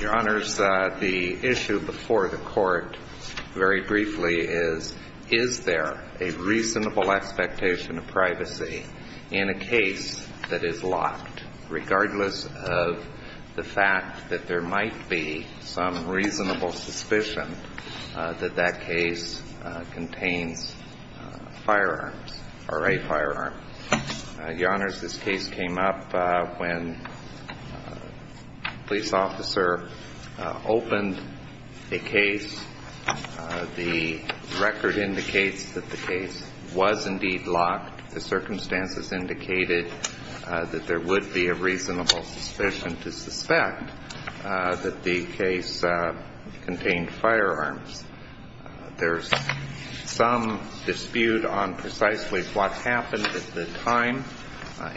Your honors, the issue before the court very briefly is, is there a reasonable expectation of privacy in a case that is locked, regardless of the fact that there might be some reasonable suspicion that that case contains firearms or a firearm? Your honors, this case came up when a police officer opened a case. The record indicates that the case was indeed locked. The circumstances indicated that there would be a reasonable suspicion to suspect that the case contained firearms. There's some dispute on precisely what happened at the time.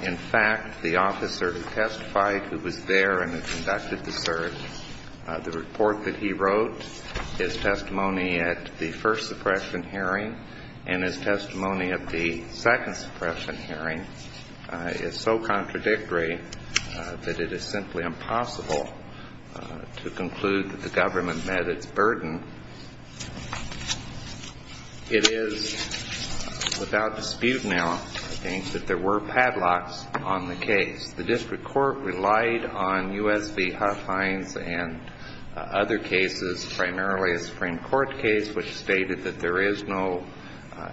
In fact, the officer who testified who was there and who conducted the search, the report that he wrote, his testimony at the first suppression hearing and his testimony at the second suppression hearing is so contradictory that it is simply impossible to conclude that the government met its burden. It is without dispute now, I think, that there were padlocks on the case. The district court relied on U.S. v. Huffines and other cases, primarily a Supreme Court case which stated that there is no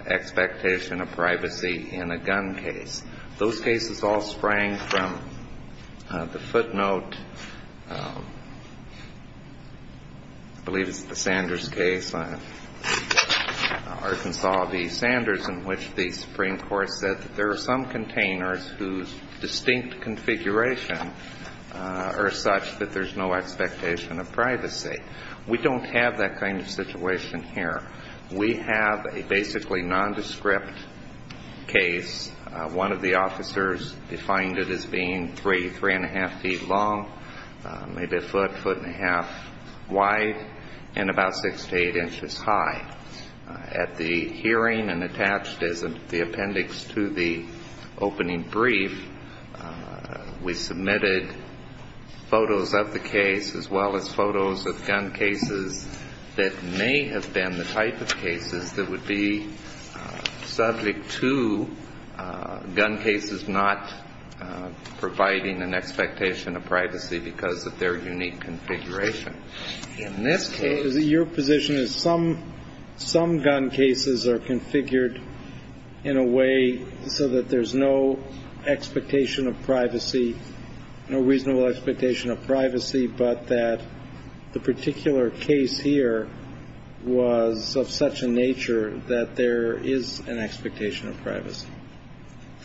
expectation of privacy in a gun case. Those cases all sprang from the footnote, I believe it's the Sanders case, Arkansas v. Sanders, in which the Supreme Court said that there are some containers whose distinct configuration are such that there's no expectation of privacy. We don't have that kind of situation here. We have a basically nondescript case. One of the officers defined it as being three, three-and-a-half feet long, maybe a foot, foot-and-a-half wide, and about six to eight inches high. At the hearing and attached is the appendix to the opening brief, we submitted photos of the case as well as photos of gun cases that may have been the type of cases that would be subject to gun cases not providing an expectation of privacy because of their unique configuration. In this case, your position is some gun cases are configured in a way so that there's no expectation of privacy, no reasonable expectation of privacy, but that the particular case here was of such a nature that there is an expectation of privacy.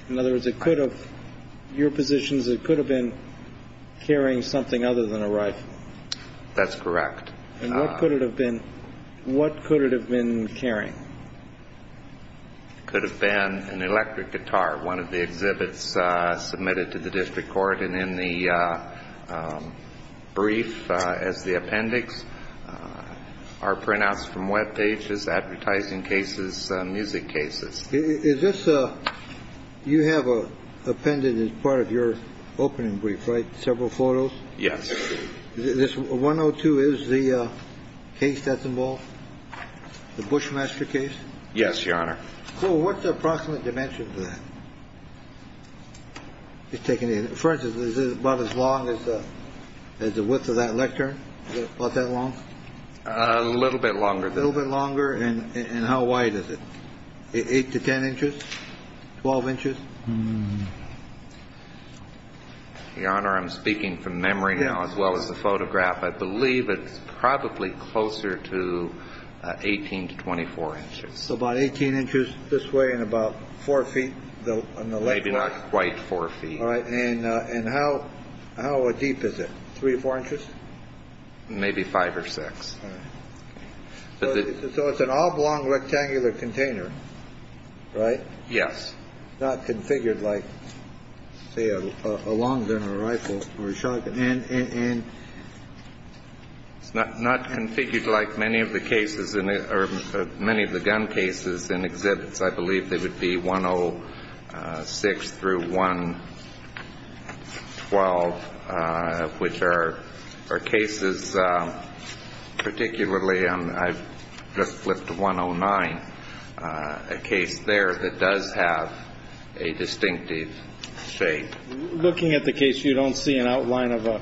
In other words, it could have, your position is it could have been carrying something other than a rifle. That's correct. And what could it have been? What could it have been carrying? It could have been an electric guitar, one of the exhibits submitted to the district court. And in the brief as the appendix are printouts from Web pages, advertising cases, music cases. Is this, you have appended as part of your opening brief, right, several photos? Yes. This 102 is the case that's involved, the Bushmaster case? Yes, Your Honor. So what's the approximate dimension for that? For instance, is it about as long as the width of that lectern? Is it about that long? A little bit longer. A little bit longer. And how wide is it? Eight to ten inches? Twelve inches? Your Honor, I'm speaking from memory now, as well as the photograph. I believe it's probably closer to 18 to 24 inches. So about 18 inches this way and about four feet on the left. Maybe not quite four feet. And how deep is it? Three or four inches? Maybe five or six. So it's an oblong rectangular container, right? Yes. It's not configured like, say, a long gun or a rifle or a shotgun. And it's not configured like many of the cases or many of the gun cases in exhibits. I believe they would be 106 through 112, which are cases, particularly, I've just flipped to 109, a case there that does have a distinctive shape. Looking at the case, you don't see an outline of a,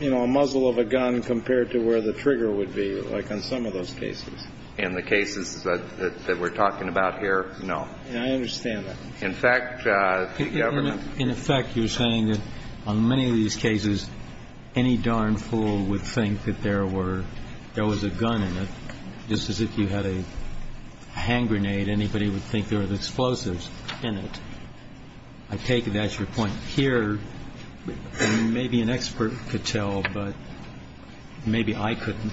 you know, a muzzle of a gun compared to where the trigger would be, like on some of those cases. In the cases that we're talking about here, no. In fact, the government. In effect, you're saying that on many of these cases, any darn fool would think that there were, there was a gun in it. Just as if you had a hand grenade, anybody would think there were explosives in it. I take it that's your point here. Maybe an expert could tell, but maybe I couldn't.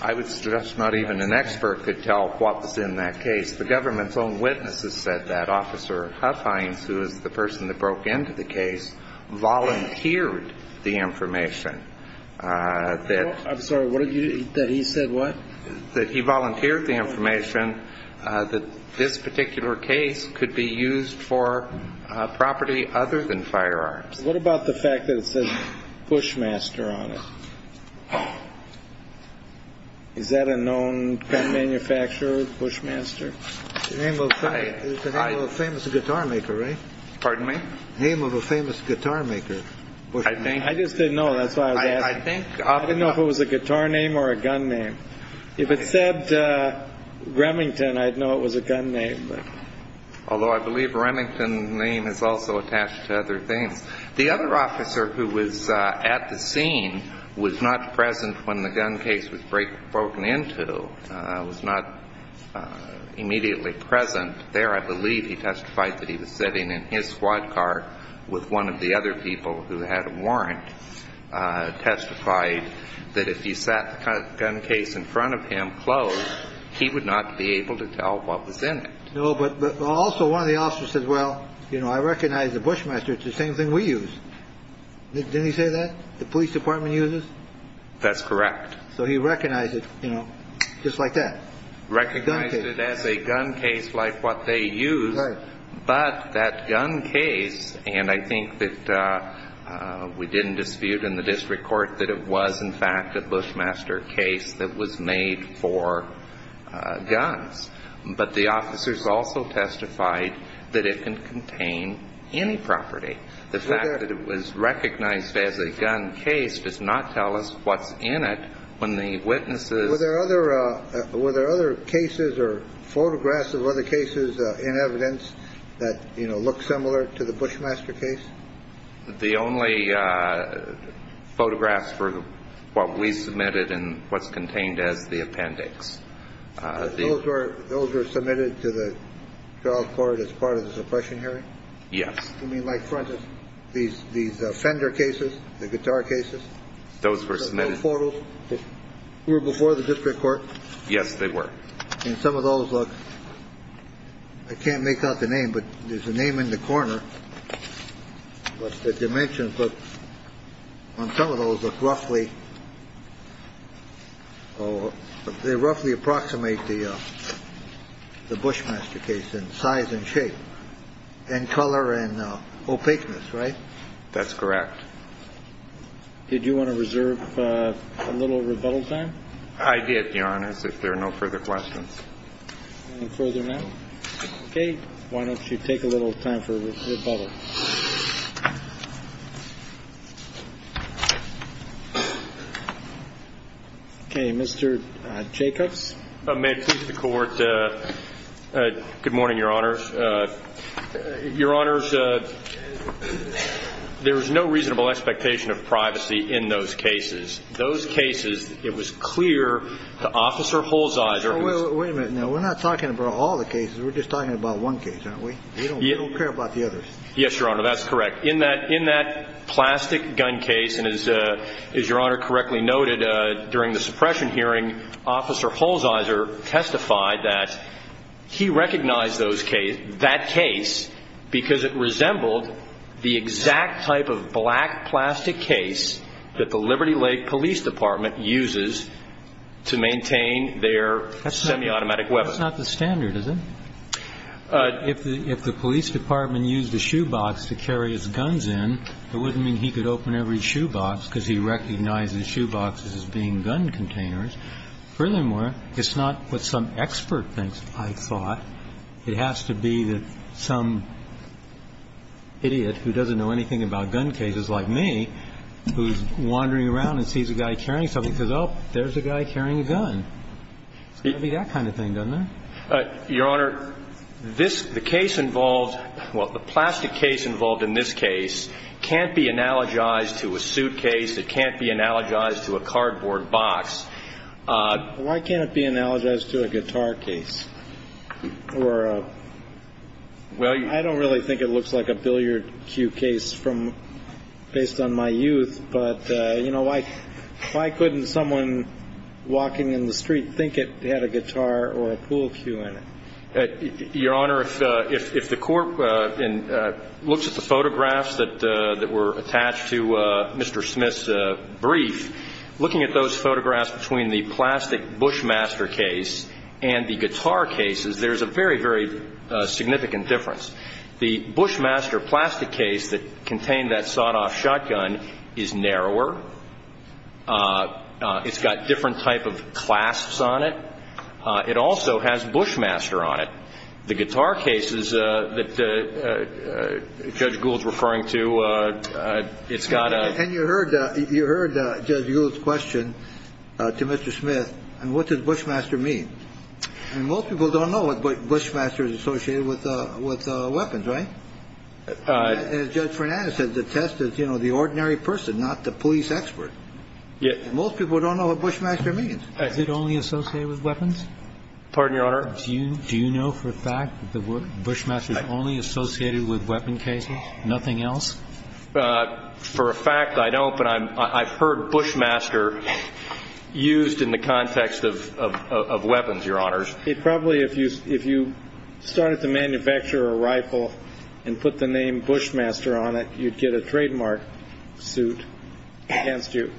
I would stress not even an expert could tell what was in that case. The government's own witnesses said that. Officer Huffines, who is the person that broke into the case, volunteered the information that. I'm sorry, what did you, that he said what? That he volunteered the information that this particular case could be used for property other than firearms. What about the fact that it says Bushmaster on it? Is that a known manufacturer, Bushmaster? The name of a famous guitar maker, right? Pardon me? Name of a famous guitar maker. I just didn't know. That's why I was asking. I didn't know if it was a guitar name or a gun name. If it said Remington, I'd know it was a gun name. Although I believe Remington's name is also attached to other things. The other officer who was at the scene was not present when the gun case was broken into, was not immediately present. There, I believe he testified that he was sitting in his squad car with one of the other people who had a warrant, testified that if he sat the gun case in front of him closed, he would not be able to tell what was in it. No, but also one of the officers said, well, you know, I recognize the Bushmaster. It's the same thing we use. Didn't he say that the police department uses? That's correct. So he recognized it, you know, just like that. Recognized it as a gun case like what they use. Right. But that gun case, and I think that we didn't dispute in the district court that it was in fact a Bushmaster case that was made for guns. But the officers also testified that it can contain any property. The fact that it was recognized as a gun case does not tell us what's in it when the witnesses. Were there other cases or photographs of other cases in evidence that look similar to the Bushmaster case? The only photographs were what we submitted and what's contained as the appendix. Those were those were submitted to the trial court as part of the suppression hearing. Yes. I mean, like, for instance, these these fender cases, the guitar cases. Those were submitted. Photos were before the district court. Yes, they were. And some of those look I can't make out the name, but there's a name in the corner. But the dimensions on some of those look roughly. Oh, they roughly approximate the the Bushmaster case in size and shape and color and opaqueness. Right. That's correct. Did you want to reserve a little rebuttal time? I did, Your Honor. If there are no further questions further now. OK, why don't you take a little time for rebuttal? OK, Mr. Jacobs. May it please the court. Good morning, Your Honors. Your Honors, there is no reasonable expectation of privacy in those cases. Those cases, it was clear to Officer Holzer. Wait a minute now. We're not talking about all the cases. We're just talking about one case, aren't we? We don't care about the others. Yes, Your Honor. That's correct. In that in that plastic gun case. And as your honor correctly noted during the suppression hearing, Officer Holzer testified that he recognized those case that case because it resembled the exact type of black plastic case that the Liberty Lake Police Department uses to maintain their. That's semi-automatic weapons. That's not the standard, is it? If the police department used a shoebox to carry his guns in, it wouldn't mean he could open every shoebox because he recognizes shoeboxes as being gun containers. Furthermore, it's not what some expert thinks, I thought. It has to be that some idiot who doesn't know anything about gun cases like me, who's wandering around and sees a guy carrying something, says, oh, there's a guy carrying a gun. It's got to be that kind of thing, doesn't it? Your Honor, this case involved, well, the plastic case involved in this case can't be analogized to a suitcase. It can't be analogized to a cardboard box. Why can't it be analogized to a guitar case? Well, I don't really think it looks like a billiard cue case from based on my youth. But, you know, why couldn't someone walking in the street think it had a guitar or a pool cue in it? Your Honor, if the court looks at the photographs that were attached to Mr. Smith's brief, looking at those photographs between the plastic Bushmaster case and the guitar cases, there's a very, very significant difference. The Bushmaster plastic case that contained that sawed-off shotgun is narrower. It's got different type of clasps on it. It also has Bushmaster on it. The guitar cases that Judge Gould's referring to, it's got a ‑‑ And you heard Judge Gould's question to Mr. Smith, and what does Bushmaster mean? And most people don't know what Bushmaster is associated with weapons, right? As Judge Fernandez said, the test is, you know, the ordinary person, not the police expert. And most people don't know what Bushmaster means. Is it only associated with weapons? Pardon, Your Honor? Do you know for a fact that Bushmaster is only associated with weapon cases, nothing else? For a fact, I don't, but I've heard Bushmaster used in the context of weapons, Your Honors. Probably if you started to manufacture a rifle and put the name Bushmaster on it, you'd get a trademark suit against you.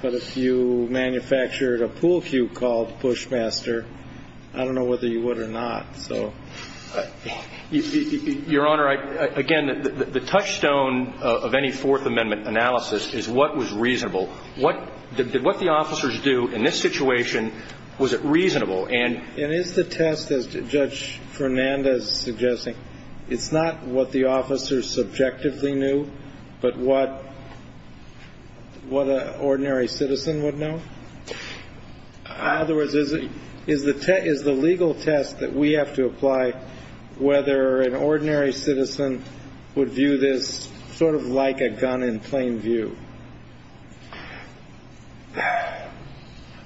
But if you manufactured a pool cue called Bushmaster, I don't know whether you would or not. Your Honor, again, the touchstone of any Fourth Amendment analysis is what was reasonable. What the officers do in this situation, was it reasonable? And is the test, as Judge Fernandez is suggesting, it's not what the officers subjectively knew, but what an ordinary citizen would know? In other words, is the legal test that we have to apply whether an ordinary citizen would view this sort of like a gun in plain view?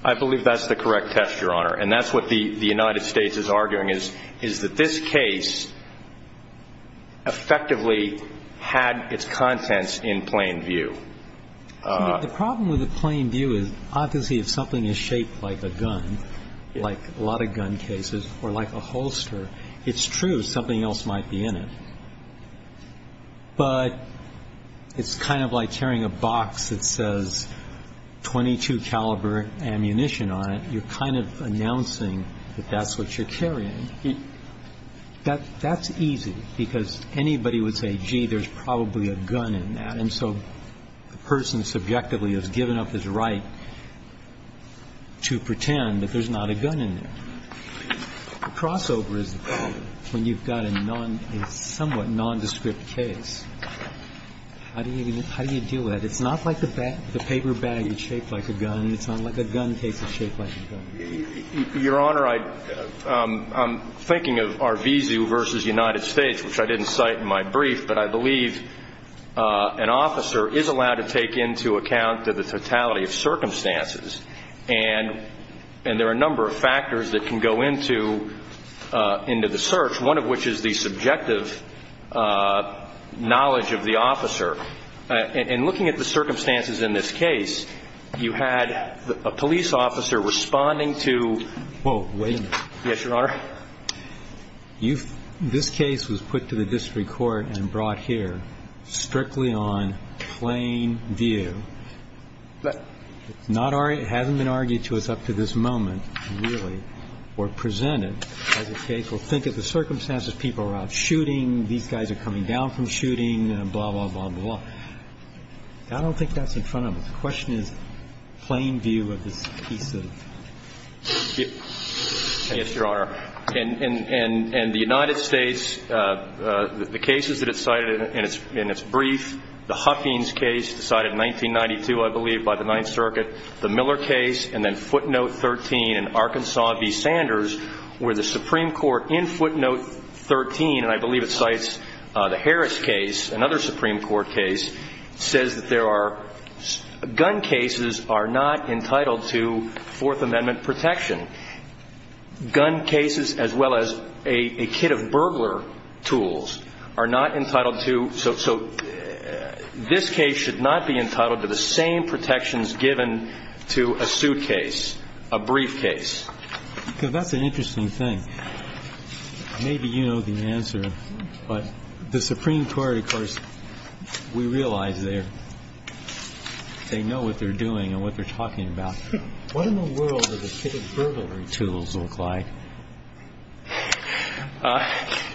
I believe that's the correct test, Your Honor. And that's what the United States is arguing, is that this case effectively had its contents in plain view. The problem with the plain view is obviously if something is shaped like a gun, like a lot of gun cases, or like a holster, it's true, something else might be in it. But it's kind of like tearing a box that says .22 caliber ammunition on it. You're kind of announcing that that's what you're carrying. That's easy, because anybody would say, gee, there's probably a gun in that. And so the person subjectively has given up his right to pretend that there's not a gun in there. The crossover is when you've got a somewhat nondescript case. How do you deal with that? It's not like the paper bag is shaped like a gun. It's not like a gun case is shaped like a gun. Your Honor, I'm thinking of Arvizu v. United States, which I didn't cite in my brief. But I believe an officer is allowed to take into account the totality of circumstances. And there are a number of factors that can go into the search, one of which is the subjective knowledge of the officer. And looking at the circumstances in this case, you had a police officer responding to ---- Well, wait a minute. Yes, Your Honor. This case was put to the district court and brought here strictly on plain view. It hasn't been argued to us up to this moment, really, or presented as a case. Well, think of the circumstances. People are out shooting. These guys are coming down from shooting, blah, blah, blah, blah, blah. I don't think that's in front of us. The question is plain view of this piece of ---- Yes, Your Honor. And the United States, the cases that it cited in its brief, the Huffings case cited in 1992, I believe, by the Ninth Circuit, the Miller case, and then footnote 13 in Arkansas v. Sanders, where the Supreme Court in footnote 13, and I believe it cites the Harris case, another Supreme Court case, says that there are gun cases are not entitled to Fourth Amendment protection. Gun cases as well as a kit of burglar tools are not entitled to ---- So this case should not be entitled to the same protections given to a suitcase, a briefcase. That's an interesting thing. Maybe you know the answer. But the Supreme Court, of course, we realize they know what they're doing and what they're talking about. What in the world do the kit of burglary tools look like?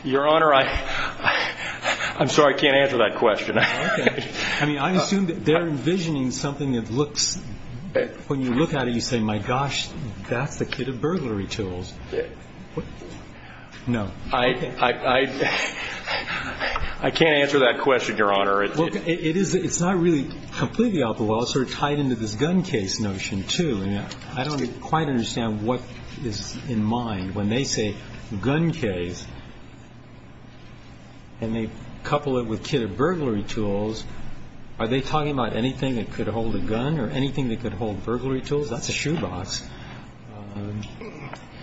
Your Honor, I'm sorry I can't answer that question. I mean, I assume that they're envisioning something that looks ---- When you look at it, you say, my gosh, that's the kit of burglary tools. No. I can't answer that question, Your Honor. It's not really completely out the wall. It's sort of tied into this gun case notion, too. I don't quite understand what is in mind when they say gun case and they couple it with kit of burglary tools. Are they talking about anything that could hold a gun or anything that could hold burglary tools? That's a shoebox.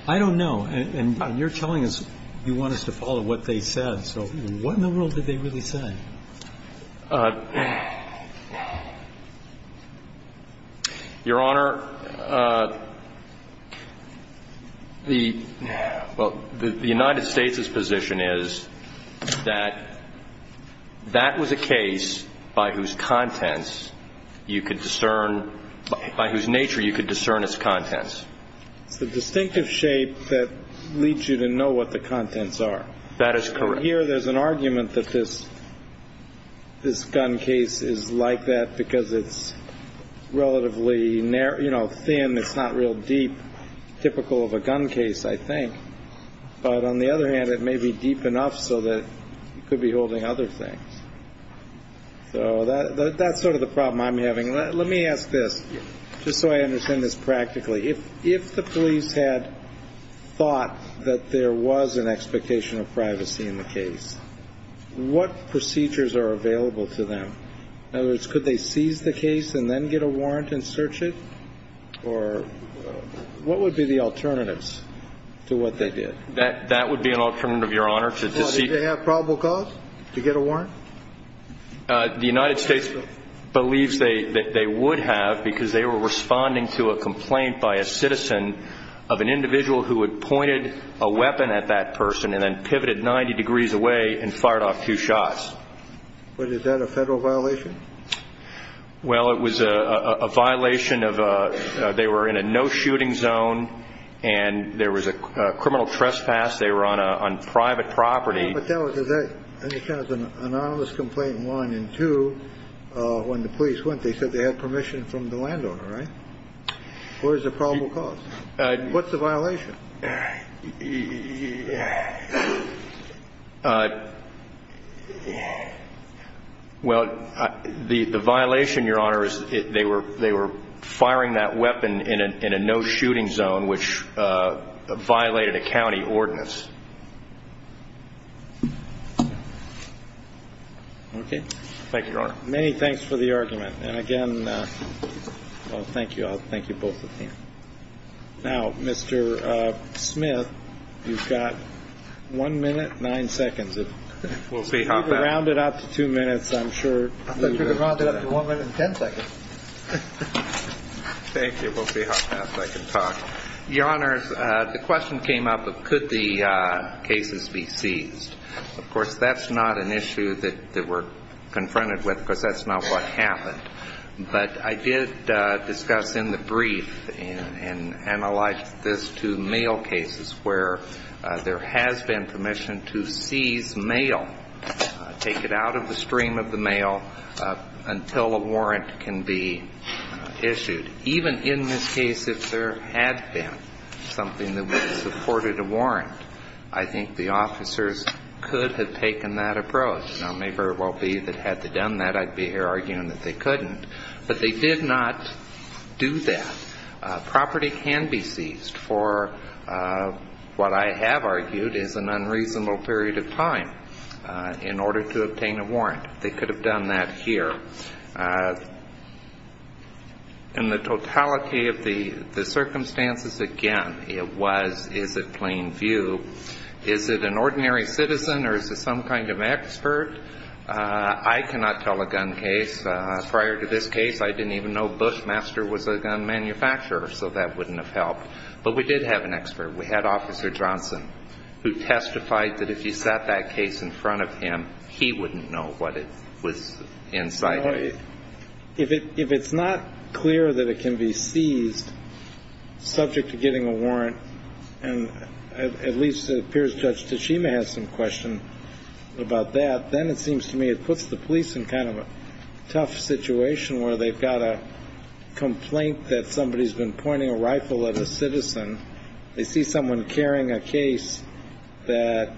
I don't know. And you're telling us you want us to follow what they said. So what in the world did they really say? Your Honor, the United States' position is that that was a case by whose contents you could discern, by whose nature you could discern its contents. It's the distinctive shape that leads you to know what the contents are. That is correct. Here there's an argument that this gun case is like that because it's relatively, you know, thin. It's not real deep, typical of a gun case, I think. But on the other hand, it may be deep enough so that it could be holding other things. So that's sort of the problem I'm having. Let me ask this, just so I understand this practically. If the police had thought that there was an expectation of privacy in the case, what procedures are available to them? In other words, could they seize the case and then get a warrant and search it? Or what would be the alternatives to what they did? That would be an alternative, Your Honor. Did they have probable cause to get a warrant? The United States believes that they would have because they were responding to a complaint by a citizen of an individual who had pointed a weapon at that person and then pivoted 90 degrees away and fired off two shots. But is that a federal violation? Well, it was a violation of a they were in a no-shooting zone and there was a criminal trespass. They were on private property. But that was an anonymous complaint, one. And two, when the police went, they said they had permission from the landowner, right? What is the probable cause? What's the violation? Well, the violation, Your Honor, is they were firing that weapon in a no-shooting zone, which violated a county ordinance. Okay. Thank you, Your Honor. Many thanks for the argument. And, again, thank you all. Thank you, both of you. Now, Mr. Smith, you've got one minute, nine seconds. If we could round it up to two minutes, I'm sure. I think we could round it up to one minute and ten seconds. Thank you. We'll see how fast I can talk. Your Honors, the question came up of could the cases be seized. Of course, that's not an issue that we're confronted with because that's not what happened. But I did discuss in the brief and I like this to mail cases where there has been permission to seize mail, take it out of the stream of the mail until a warrant can be issued. Even in this case, if there had been something that would have supported a warrant, I think the officers could have taken that approach. Now, it may very well be that had they done that, I'd be here arguing that they couldn't. But they did not do that. Property can be seized for what I have argued is an unreasonable period of time in order to obtain a warrant. They could have done that here. In the totality of the circumstances, again, it was, is it plain view? Is it an ordinary citizen or is it some kind of expert? I cannot tell a gun case. Prior to this case, I didn't even know Bushmaster was a gun manufacturer, so that wouldn't have helped. But we did have an expert. We had Officer Johnson, who testified that if you sat that case in front of him, he wouldn't know what was inside of it. If it's not clear that it can be seized subject to getting a warrant, and at least it appears Judge Tashima has some question about that, then it seems to me it puts the police in kind of a tough situation where they've got a complaint that somebody's been pointing a rifle at a citizen. They see someone carrying a case that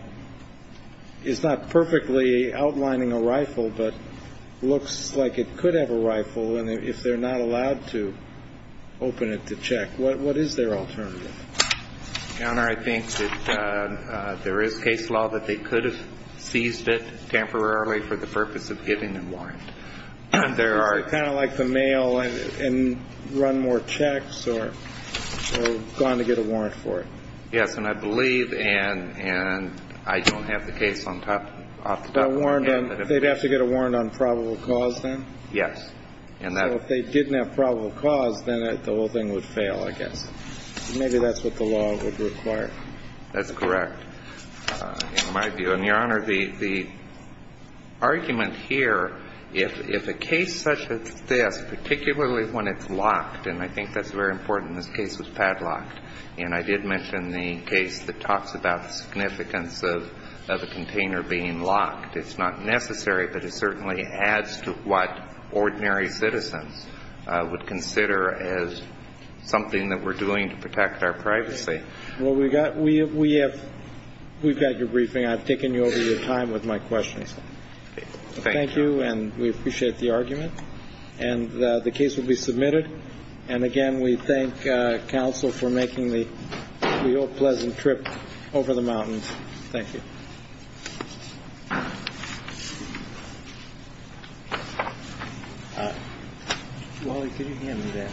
is not perfectly outlining a rifle but looks like it could have a rifle, and if they're not allowed to open it to check, what is their alternative? Your Honor, I think that there is case law that they could have seized it temporarily for the purpose of getting a warrant. There are kind of like the mail and run more checks or gone to get a warrant for it. Yes, and I believe and I don't have the case on top, off the top of my head. They'd have to get a warrant on probable cause then? Yes. So if they didn't have probable cause, then the whole thing would fail, I guess. Maybe that's what the law would require. That's correct, in my view. And, Your Honor, the argument here, if a case such as this, particularly when it's locked, and I think that's very important. This case was padlocked, and I did mention the case that talks about the significance of a container being locked. It's not necessary, but it certainly adds to what ordinary citizens would consider as something that we're doing to protect our privacy. Well, we've got your briefing. I've taken you over your time with my questions. Thank you, and we appreciate the argument. And the case will be submitted. And, again, we thank counsel for making the pleasant trip over the mountains. Thank you. Wally, can you hand me that? Thanks. I am.